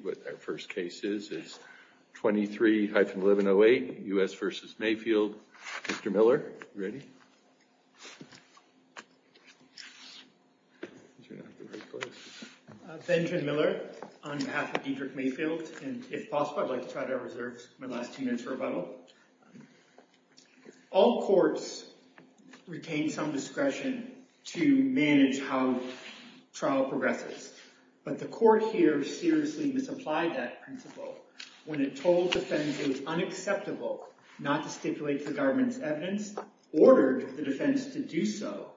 23-1108, U.S. v. Mayfield, Mr. Miller, are you ready? Benjamin Miller, on behalf of Diedrich Mayfield, and if possible I'd like to try to reserve my last two minutes for rebuttal. All courts retain some discretion to manage how trial progresses. But the court here seriously misapplied that principle when it told defense it was unacceptable not to stipulate the government's evidence, ordered the defense to do so,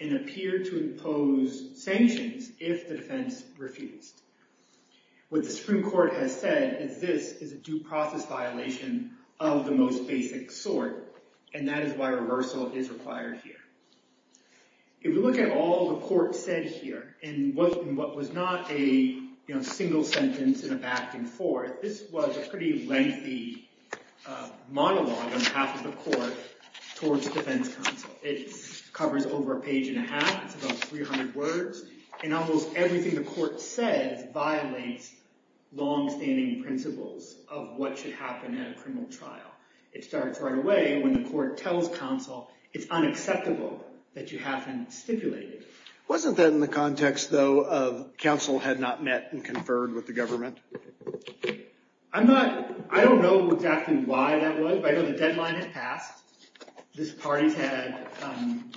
and appeared to impose sanctions if the defense refused. What the Supreme Court has said is this is a due process violation of the most basic sort, and that is why reversal is required here. If we look at all the court said here, in what was not a single sentence in a back and forth, this was a pretty lengthy monologue on behalf of the court towards defense counsel. It covers over a page and a half. It's about 300 words. And almost everything the court says violates longstanding principles of what should happen at a criminal trial. It starts right away when the court tells counsel it's unacceptable that you haven't stipulated. Wasn't that in the context, though, of counsel had not met and conferred with the government? I'm not, I don't know exactly why that was, but I know the deadline had passed. This party had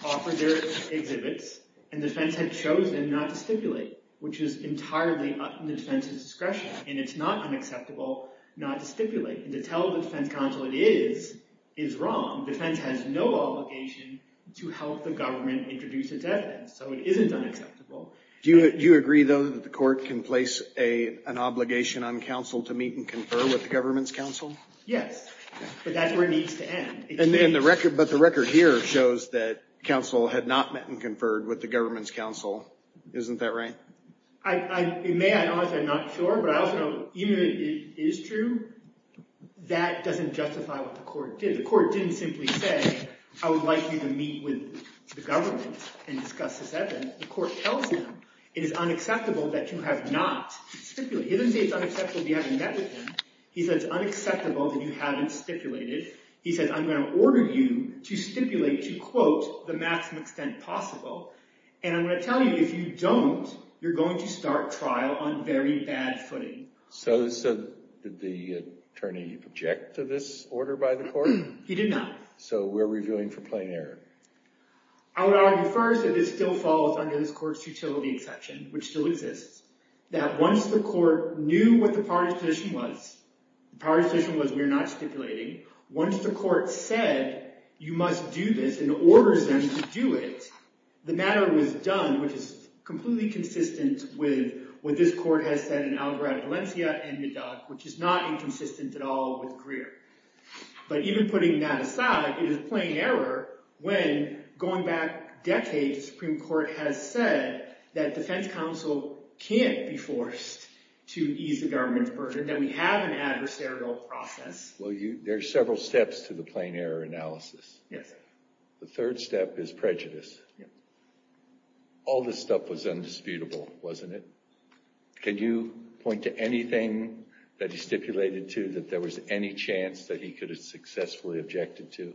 offered their exhibits, and defense had chosen not to stipulate, which is entirely up in the defense's discretion. And it's not unacceptable not to stipulate. And to tell the defense counsel it is is wrong. Defense has no obligation to help the government introduce its evidence. So it isn't unacceptable. Do you agree, though, that the court can place an obligation on counsel to meet and confer with the government's counsel? Yes, but that's where it needs to end. But the record here shows that counsel had not met and conferred with the government's counsel. Isn't that right? It may. I don't know. I'm not sure. But I also know, even if it is true, that doesn't justify what the court did. The court didn't simply say, I would like you to meet with the government and discuss this evidence. The court tells them, it is unacceptable that you have not stipulated. He doesn't say it's unacceptable that you haven't met with them. He says it's unacceptable that you haven't stipulated. He says, I'm going to order you to stipulate, to quote, the maximum extent possible. And I'm going to tell you, if you don't, you're going to start trial on very bad footing. So did the attorney object to this order by the court? He did not. So we're reviewing for plain error. I would argue first that this still falls under this court's futility exception, which still exists. That once the court knew what the power position was, the power position was, we're not stipulating. Once the court said, you must do this, and orders them to do it, the matter was done, which is completely consistent with what this court has said in Alvarado Valencia and Nadal, which is not inconsistent at all with Greer. But even putting that aside, it is plain error when, going back decades, the Supreme Court has said that defense counsel can't be forced to ease the government's burden, that we have an adversarial process. Well, there are several steps to the plain error analysis. Yes. The third step is prejudice. Yes. All this stuff was undisputable, wasn't it? Can you point to anything that he stipulated to that there was any chance that he could have successfully objected to?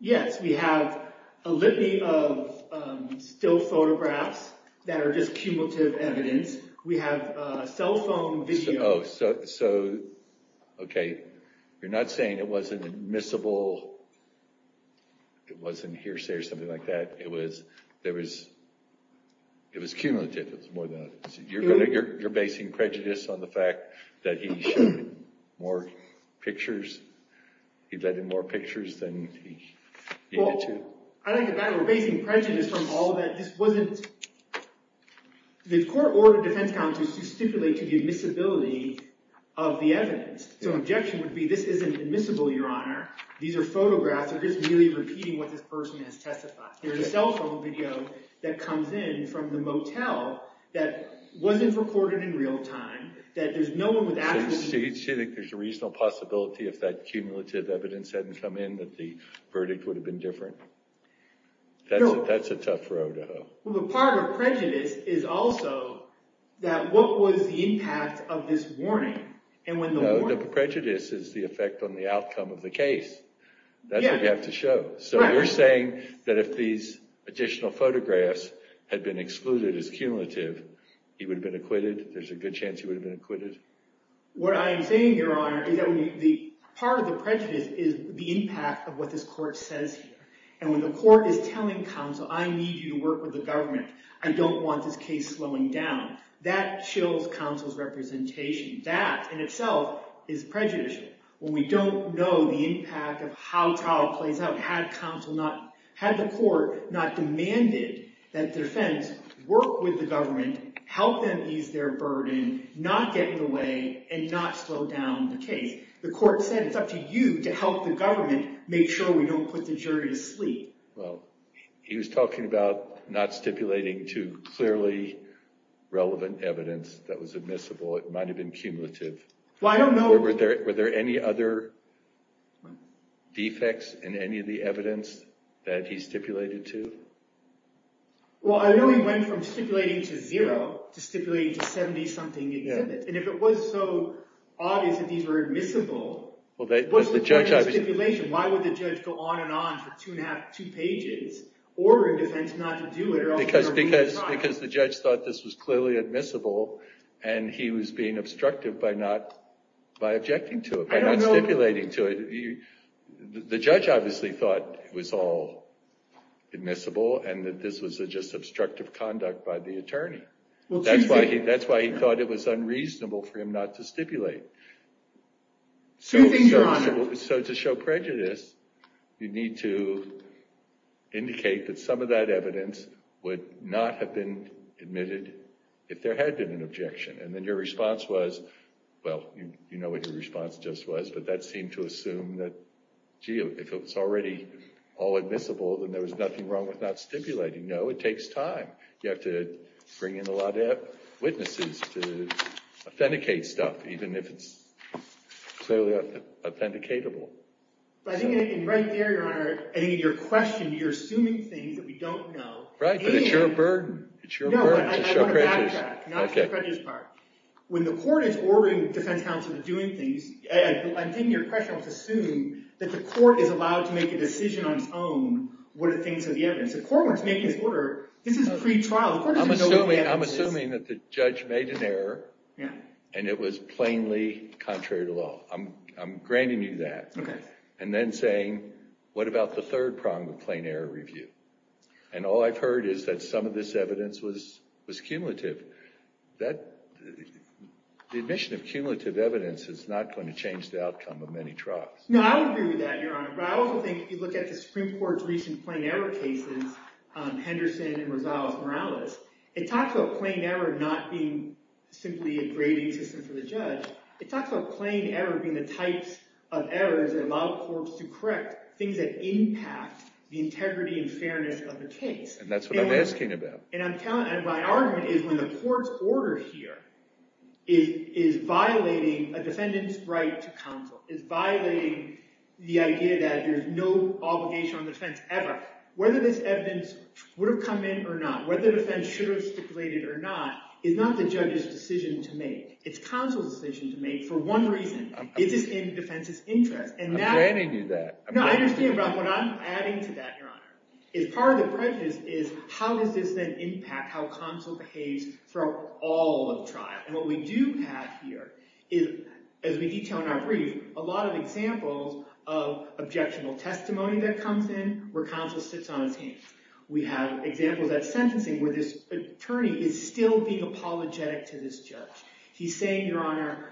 Yes. We have a litany of still photographs that are just cumulative evidence. We have cell phone video. Oh, so, okay. You're not saying it wasn't admissible, it wasn't hearsay or something like that. It was cumulative. You're basing prejudice on the fact that he showed more pictures? He let in more pictures than he needed to? Well, I don't think that we're basing prejudice from all that. This wasn't – the court ordered defense counsel to stipulate to the admissibility of the evidence. So an objection would be, this isn't admissible, Your Honor. These are photographs. They're just merely repeating what this person has testified. There's cell phone video that comes in from the motel that wasn't recorded in real time, that there's no one with actual – So you think there's a reasonable possibility if that cumulative evidence hadn't come in that the verdict would have been different? That's a tough road to hoe. Well, but part of prejudice is also that what was the impact of this warning? No, the prejudice is the effect on the outcome of the case. That's what you have to show. So you're saying that if these additional photographs had been excluded as cumulative, he would have been acquitted? There's a good chance he would have been acquitted? What I am saying, Your Honor, is that part of the prejudice is the impact of what this court says here. And when the court is telling counsel, I need you to work with the government. I don't want this case slowing down. That chills counsel's representation. That in itself is prejudicial. When we don't know the impact of how a trial plays out, had the court not demanded that defense work with the government, help them ease their burden, not get in the way, and not slow down the case. The court said it's up to you to help the government make sure we don't put the jury to sleep. Well, he was talking about not stipulating to clearly relevant evidence that was admissible. It might have been cumulative. Well, I don't know – Were there any other defects in any of the evidence that he stipulated to? Well, I don't know he went from stipulating to zero to stipulating to 70-something exhibits. And if it was so obvious that these were admissible, what's the point of stipulation? Why would the judge go on and on for two and a half, two pages, ordering defense not to do it? Because the judge thought this was clearly admissible, and he was being obstructive by not – by objecting to it, by not stipulating to it. The judge obviously thought it was all admissible and that this was just obstructive conduct by the attorney. That's why he thought it was unreasonable for him not to stipulate. So to show prejudice, you need to indicate that some of that evidence would not have been admitted if there had been an objection. And then your response was, well, you know what your response just was, but that seemed to assume that, gee, if it was already all admissible, then there was nothing wrong with not stipulating. No, it takes time. You have to bring in a lot of witnesses to authenticate stuff, even if it's clearly authenticatable. But I think in right there, Your Honor, I think in your question, you're assuming things that we don't know. Right, but it's your burden. It's your burden to show prejudice. No, I want to backtrack. Now it's the prejudice part. When the court is ordering defense counsel to do things – I'm taking your question. I'm assuming that the court is allowed to make a decision on its own what it thinks of the evidence. The court wants to make this order. This is pretrial. The court doesn't know what the evidence is. I'm assuming that the judge made an error, and it was plainly contrary to law. I'm granting you that. Okay. And then saying, what about the third prong, the plain error review? And all I've heard is that some of this evidence was cumulative. The admission of cumulative evidence is not going to change the outcome of many trials. No, I would agree with that, Your Honor, but I also think if you look at the Supreme Court's recent plain error cases, Henderson and Rosales-Morales, it talks about plain error not being simply a grading system for the judge. It talks about plain error being the types of errors that allow courts to correct things that impact the integrity and fairness of the case. And that's what I'm asking about. And my argument is when the court's order here is violating a defendant's right to counsel, is violating the idea that there's no obligation on defense ever, whether this evidence would have come in or not, whether the defense should have stipulated or not, is not the judge's decision to make. It's counsel's decision to make for one reason. It is in defense's interest. I'm granting you that. No, I understand, but what I'm adding to that, Your Honor, is part of the prejudice is how does this then impact how counsel behaves throughout all of the trial? And what we do have here is, as we detail in our brief, a lot of examples of objectionable testimony that comes in where counsel sits on his hands. We have examples at sentencing where this attorney is still being apologetic to this judge. He's saying, Your Honor,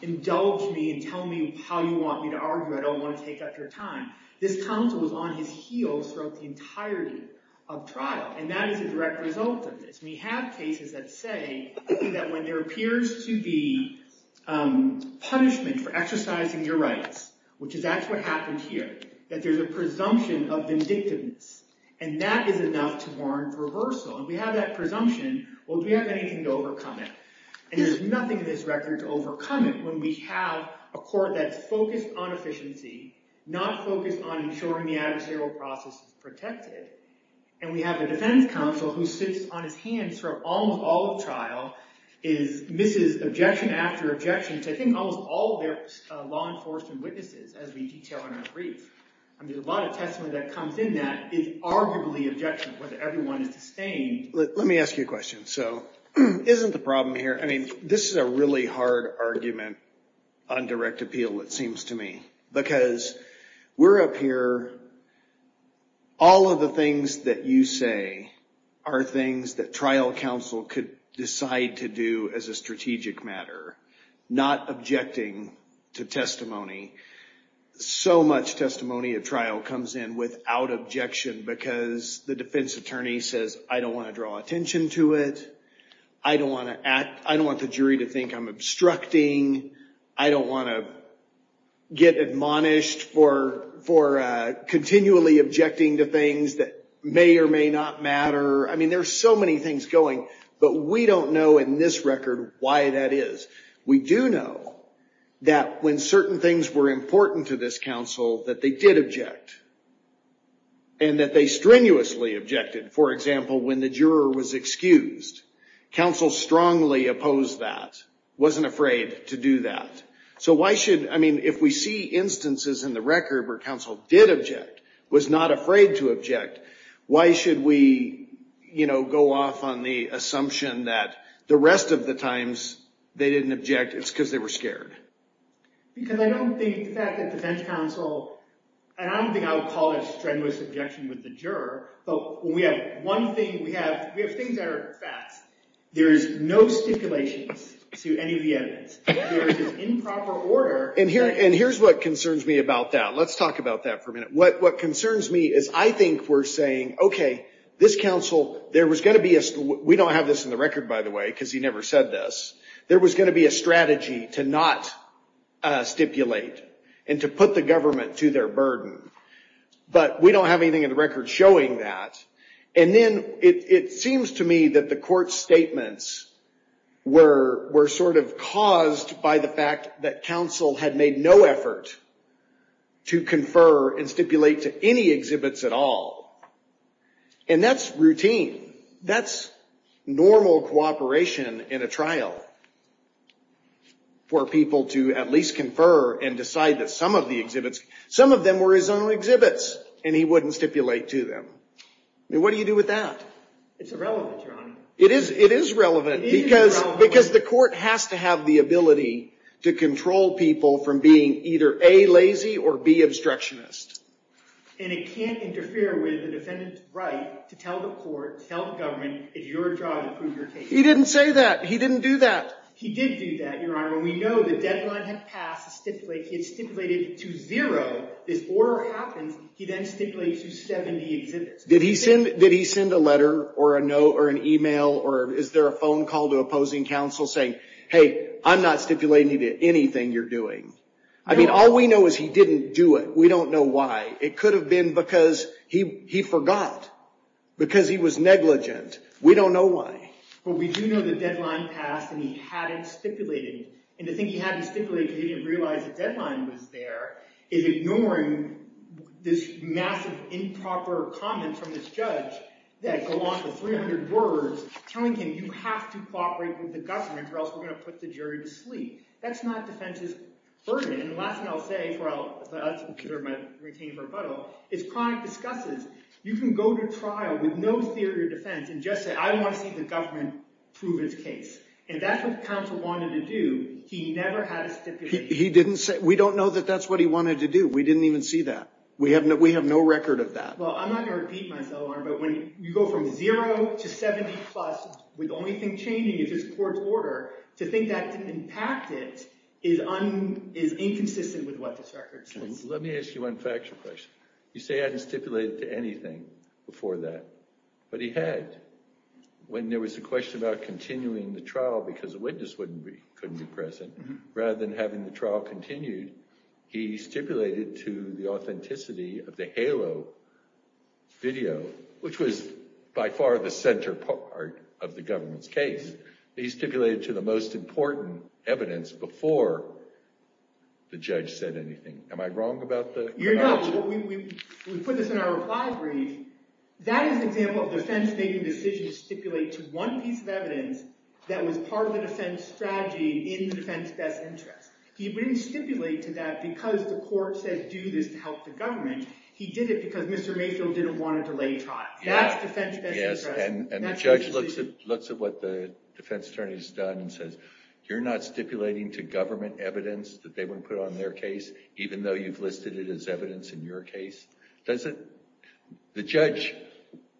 indulge me and tell me how you want me to argue. I don't want to take up your time. This counsel is on his heels throughout the entirety of trial. And that is a direct result of this. We have cases that say that when there appears to be punishment for exercising your rights, which is actually what happened here, that there's a presumption of vindictiveness. And that is enough to warrant reversal. And we have that presumption. Well, do we have anything to overcome it? And there's nothing in this record to overcome it when we have a court that's focused on efficiency, not focused on ensuring the adversarial process is protected. And we have a defense counsel who sits on his hands for almost all of trial, misses objection after objection to, I think, almost all of their law enforcement witnesses, as we detail in our brief. I mean, a lot of testimony that comes in that is arguably objectionable, whether everyone is sustained. Let me ask you a question. So isn't the problem here, I mean, this is a really hard argument on direct appeal, it seems to me. Because we're up here, all of the things that you say are things that trial counsel could decide to do as a strategic matter, not objecting to testimony. So much testimony at trial comes in without objection because the defense attorney says, I don't want to draw attention to it. I don't want the jury to think I'm obstructing. I don't want to get admonished for continually objecting to things that may or may not matter. I mean, there's so many things going. But we don't know in this record why that is. We do know that when certain things were important to this counsel, that they did object, and that they strenuously objected. For example, when the juror was excused, counsel strongly opposed that, wasn't afraid to do that. So why should, I mean, if we see instances in the record where counsel did object, was not afraid to object, why should we go off on the assumption that the rest of the times they didn't object, it's because they were scared? Because I don't think that the defense counsel, and I don't think I would call it a strenuous objection with the juror. But when we have one thing, we have things that are facts. There is no stipulations to any of the evidence. There is improper order. And here's what concerns me about that. Let's talk about that for a minute. What concerns me is I think we're saying, OK, this counsel, there was going to be a, we don't have this in the record, by the way, because he never said this. There was going to be a strategy to not stipulate and to put the government to their burden. But we don't have anything in the record showing that. And then it seems to me that the court's statements were sort of caused by the fact that counsel had made no effort to confer and stipulate to any exhibits at all. And that's routine. That's normal cooperation in a trial for people to at least confer and decide that some of the exhibits, some of them were his own exhibits. And he wouldn't stipulate to them. I mean, what do you do with that? It's irrelevant, Your Honor. It is relevant because the court has to have the ability to control people from being either A, lazy, or B, obstructionist. And it can't interfere with the defendant's right to tell the court, tell the government, it's your job to prove your case. He didn't say that. He didn't do that. He did do that, Your Honor. When we know the deadline had passed to stipulate, he had stipulated to zero, this order happens, he then stipulates to 70 exhibits. Did he send a letter or an email or is there a phone call to opposing counsel saying, hey, I'm not stipulating anything you're doing? I mean, all we know is he didn't do it. We don't know why. It could have been because he forgot, because he was negligent. We don't know why. But we do know the deadline passed and he hadn't stipulated. And to think he hadn't stipulated because he didn't realize the deadline was there is ignoring this massive improper comment from this judge that go on for 300 words telling him, you have to cooperate with the government or else we're going to put the jury to sleep. That's not defense's burden. And the last thing I'll say before I return to my rebuttal is chronic discusses. You can go to trial with no theory of defense and just say, I want to see the government prove its case. And that's what counsel wanted to do. He never had a stipulation. We don't know that that's what he wanted to do. We didn't even see that. We have no record of that. Well, I'm not going to repeat myself, Your Honor. But when you go from 0 to 70 plus with the only thing changing is this court's order, to think that didn't impact it is inconsistent with what this record says. Let me ask you one factual question. You say he hadn't stipulated to anything before that. But he had. When there was a question about continuing the trial because a witness couldn't be present, rather than having the trial continued, he stipulated to the authenticity of the halo video, which was by far the center part of the government's case. He stipulated to the most important evidence before the judge said anything. Am I wrong about that? You're not. We put this in our reply brief. That is an example of defense making a decision to stipulate to one piece of evidence that was part of the defense strategy in the defense's best interest. He didn't stipulate to that because the court said do this to help the government. He did it because Mr. Mayfield didn't want to delay trial. That's defense's best interest. And the judge looks at what the defense attorney's done and says, you're not stipulating to government evidence that they wouldn't put on their case, even though you've listed it as evidence in your case? The judge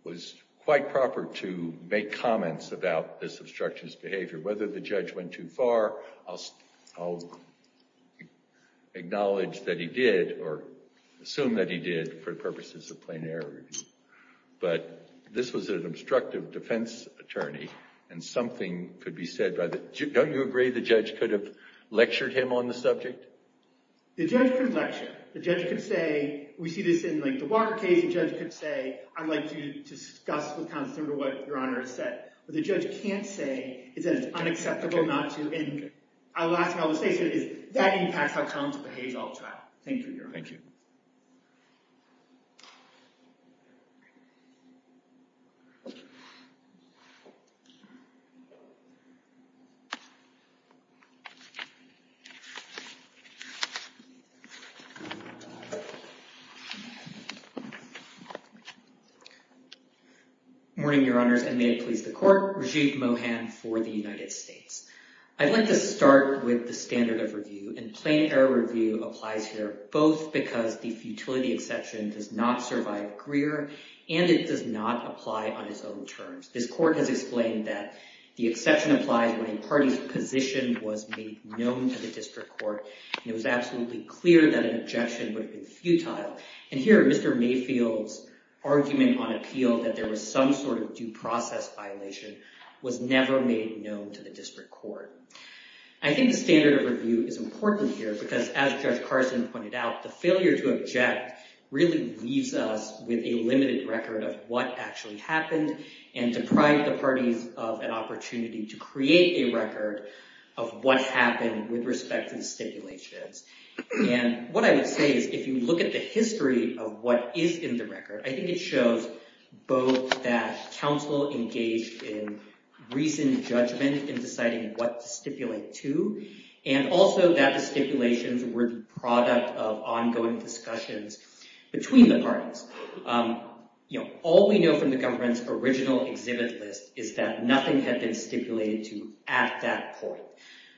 was quite proper to make comments about this obstructionist behavior. Whether the judge went too far, I'll acknowledge that he did or assume that he did for the purposes of plain error. But this was an obstructive defense attorney. And something could be said by the judge. Don't you agree the judge could have lectured him on the subject? The judge could lecture. The judge could say, we see this in the Barker case. The judge could say, I'd like to discuss with counsel what Your Honor has said. What the judge can't say is that it's unacceptable not to. And I'll ask you all to stay seated. That impacts how counsel behaves on trial. Thank you, Your Honor. Thank you. Thank you. Morning, Your Honors and may it please the court. Rajiv Mohan for the United States. I'd like to start with the standard of review. And plain error review applies here both because the futility exception does not survive Greer and it does not apply on its own terms. This court has explained that the exception applies when a party's position was made known to the district court. It was absolutely clear that an objection would have been futile. And here Mr. Mayfield's argument on appeal that there was some sort of due process violation was never made known to the district court. I think the standard of review is important here because as Judge Carson pointed out, the failure to object really leaves us with a limited record of what actually happened and deprived the parties of an opportunity to create a record of what happened with respect to the stipulations. And what I would say is if you look at the history of what is in the record, I think it shows both that counsel engaged in recent judgment in deciding what to stipulate to and also that the stipulations were the product of ongoing discussions between the parties. All we know from the government's original exhibit list is that nothing had been stipulated to at that point.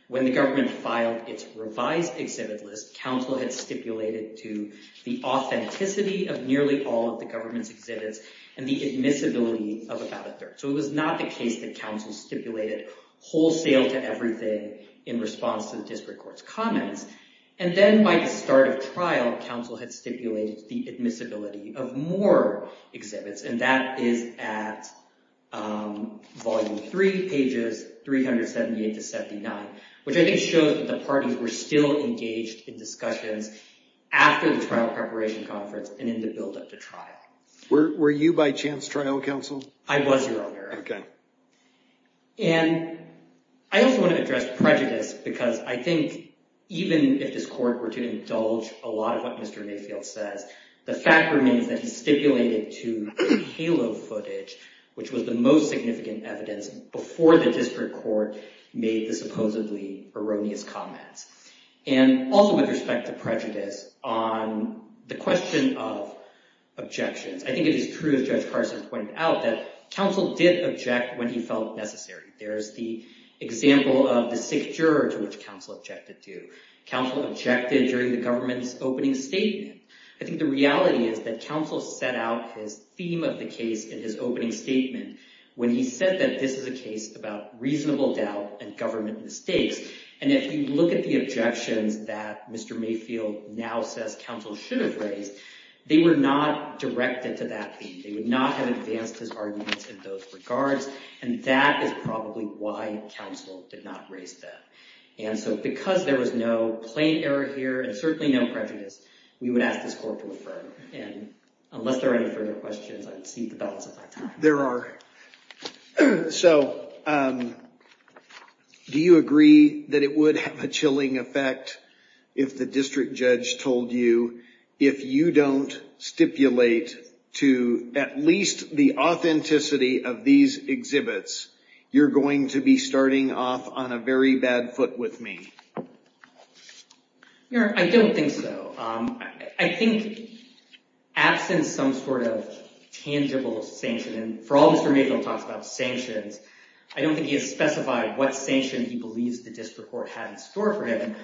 When the government filed its revised exhibit list, counsel had stipulated to the authenticity of nearly all of the government's exhibits and the admissibility of about a third. So it was not the case that counsel stipulated wholesale to everything in response to the district court's comments. And then by the start of trial, counsel had stipulated the admissibility of more exhibits and that is at volume three, pages 378 to 79, which I think shows that the parties were still engaged in discussions after the trial preparation conference and in the build up to trial. Were you by chance trial counsel? I was, Your Honor. Okay. And I also want to address prejudice because I think even if this court were to indulge a lot of what Mr. Mayfield says, the fact remains that he stipulated to halo footage, which was the most significant evidence before the district court made the supposedly erroneous comments. And also with respect to prejudice on the question of objections, I think it is true as Judge Carson pointed out that counsel did object when he felt necessary. There's the example of the sick juror to which counsel objected to. Counsel objected during the government's opening statement. I think the reality is that counsel set out his theme of the case in his opening statement when he said that this is a case about reasonable doubt and government mistakes. And if you look at the objections that Mr. Mayfield now says counsel should have raised, they were not directed to that theme. They would not have advanced his arguments in those regards. And that is probably why counsel did not raise that. And so because there was no plain error here and certainly no prejudice, we would ask this court to affirm. And unless there are any further questions, I would seek the balance of my time. There are. So do you agree that it would have a chilling effect if the district judge told you if you don't stipulate to at least the authenticity of these exhibits, you're going to be starting off on a very bad foot with me? I don't think so. I think absent some sort of tangible sanction, and for all Mr. Mayfield talks about sanctions, I don't think he has specified what sanction he believes the district court had in store for him.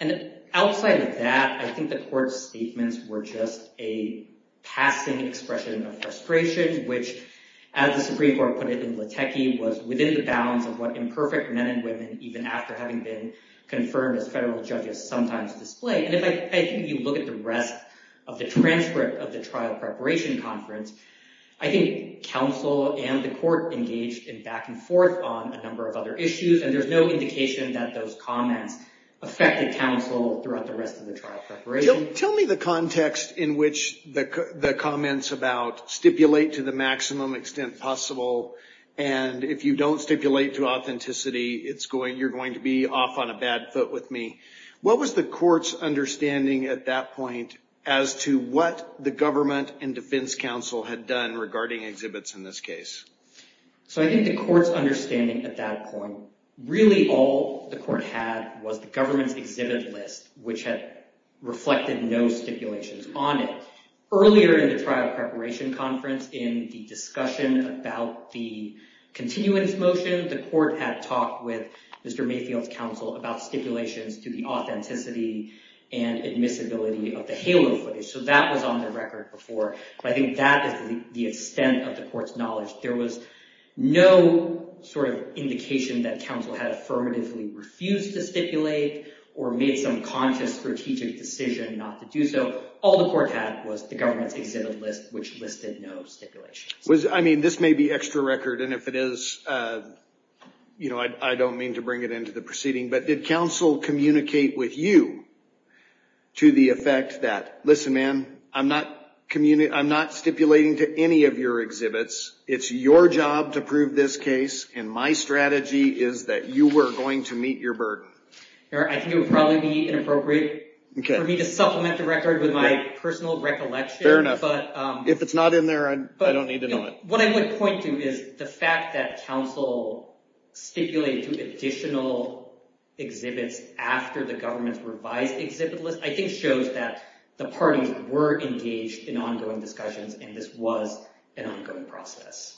And outside of that, I think the court's statements were just a passing expression of frustration, which, as the Supreme Court put it in Latecky, was within the bounds of what imperfect men and women, even after having been confirmed as federal judges, sometimes display. And if you look at the rest of the transcript of the trial preparation conference, I think counsel and the court engaged in back and forth on a number of other issues. And there's no indication that those comments affected counsel throughout the rest of the trial preparation. Tell me the context in which the comments about stipulate to the maximum extent possible, and if you don't stipulate to authenticity, you're going to be off on a bad foot with me. What was the court's understanding at that point as to what the government and defense counsel had done regarding exhibits in this case? So I think the court's understanding at that point, really all the court had was the government's exhibit list, which had reflected no stipulations on it. Earlier in the trial preparation conference, in the discussion about the continuance motion, the court had talked with Mr. Mayfield's counsel about stipulations to the authenticity and admissibility of the halo footage. So that was on the record before. But I think that is the extent of the court's knowledge. There was no indication that counsel had affirmatively refused to stipulate or made some conscious strategic decision not to do so. All the court had was the government's exhibit list, which listed no stipulations. I mean, this may be extra record, and if it is, I don't mean to bring it into the proceeding. But did counsel communicate with you to the effect that, listen, man, I'm not stipulating to any of your exhibits. It's your job to prove this case, and my strategy is that you were going to meet your burden. I think it would probably be inappropriate for me to supplement the record with my personal recollection. Fair enough. If it's not in there, I don't need to know it. What I would point to is the fact that counsel stipulated to additional exhibits after the government's revised exhibit list I think shows that the parties were engaged in ongoing discussions, and this was an ongoing process.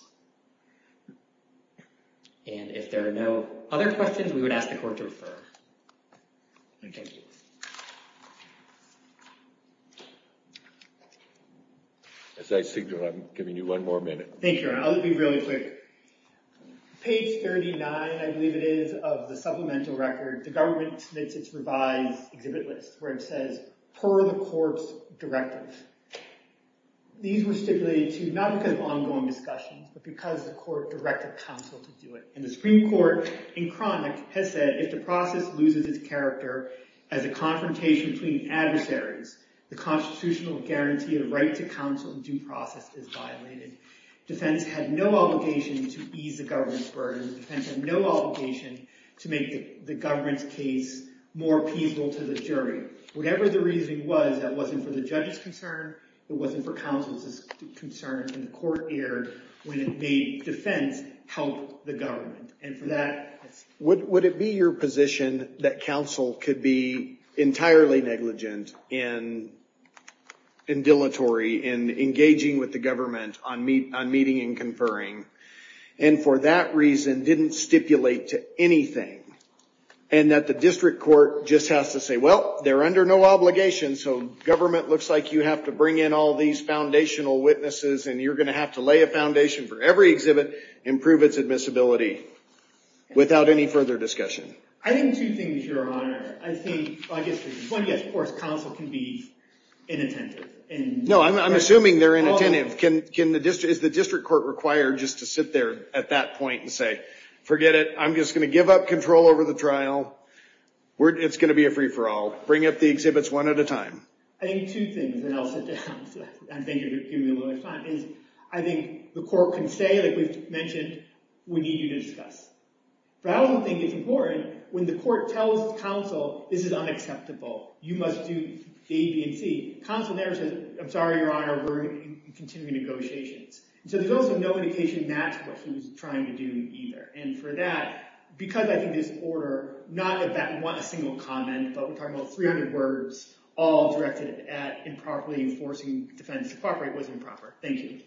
And if there are no other questions, we would ask the court to refer. Thank you. As I signaled, I'm giving you one more minute. Thank you, Your Honor. I'll be really quick. Page 39, I believe it is, of the supplemental record, the government submits its revised exhibit list, where it says, per the court's directive. These were stipulated to not because of ongoing discussion, but because the court directed counsel to do it. And the Supreme Court, in chronic, has said, if the process loses its character as a confrontation between adversaries, the constitutional guarantee of right to counsel in due process is violated. Defense had no obligation to ease the government's burden. Defense had no obligation to make the government's case more appeasable to the jury. Whatever the reasoning was, that wasn't for the judge's concern. It wasn't for counsel's concern. And the court erred when it made defense help the government. Would it be your position that counsel could be entirely negligent and dilatory in engaging with the government on meeting and conferring, and for that reason didn't stipulate to anything? And that the district court just has to say, well, they're under no obligation, so government looks like you have to bring in all these foundational witnesses, and you're going to have to lay a foundation for every exhibit, improve its admissibility, without any further discussion? I think two things, Your Honor. I think, well, I guess the point is, of course, counsel can be inattentive. No, I'm assuming they're inattentive. Is the district court required just to sit there at that point and say, forget it. I'm just going to give up control over the trial. It's going to be a free-for-all. Bring up the exhibits one at a time. I think two things, and I'll sit down and thank you for giving me a little bit of time, is I think the court can say, like we've mentioned, we need you to discuss. But I also think it's important, when the court tells counsel, this is unacceptable. You must do the A, B, and C. Counsel there says, I'm sorry, Your Honor, we're going to continue negotiations. So there's also no indication that's what he was trying to do either. And for that, because I think this order, not that we want a single comment, but we're talking about 300 words, all directed at improperly enforcing defense. It was improper. Thank you.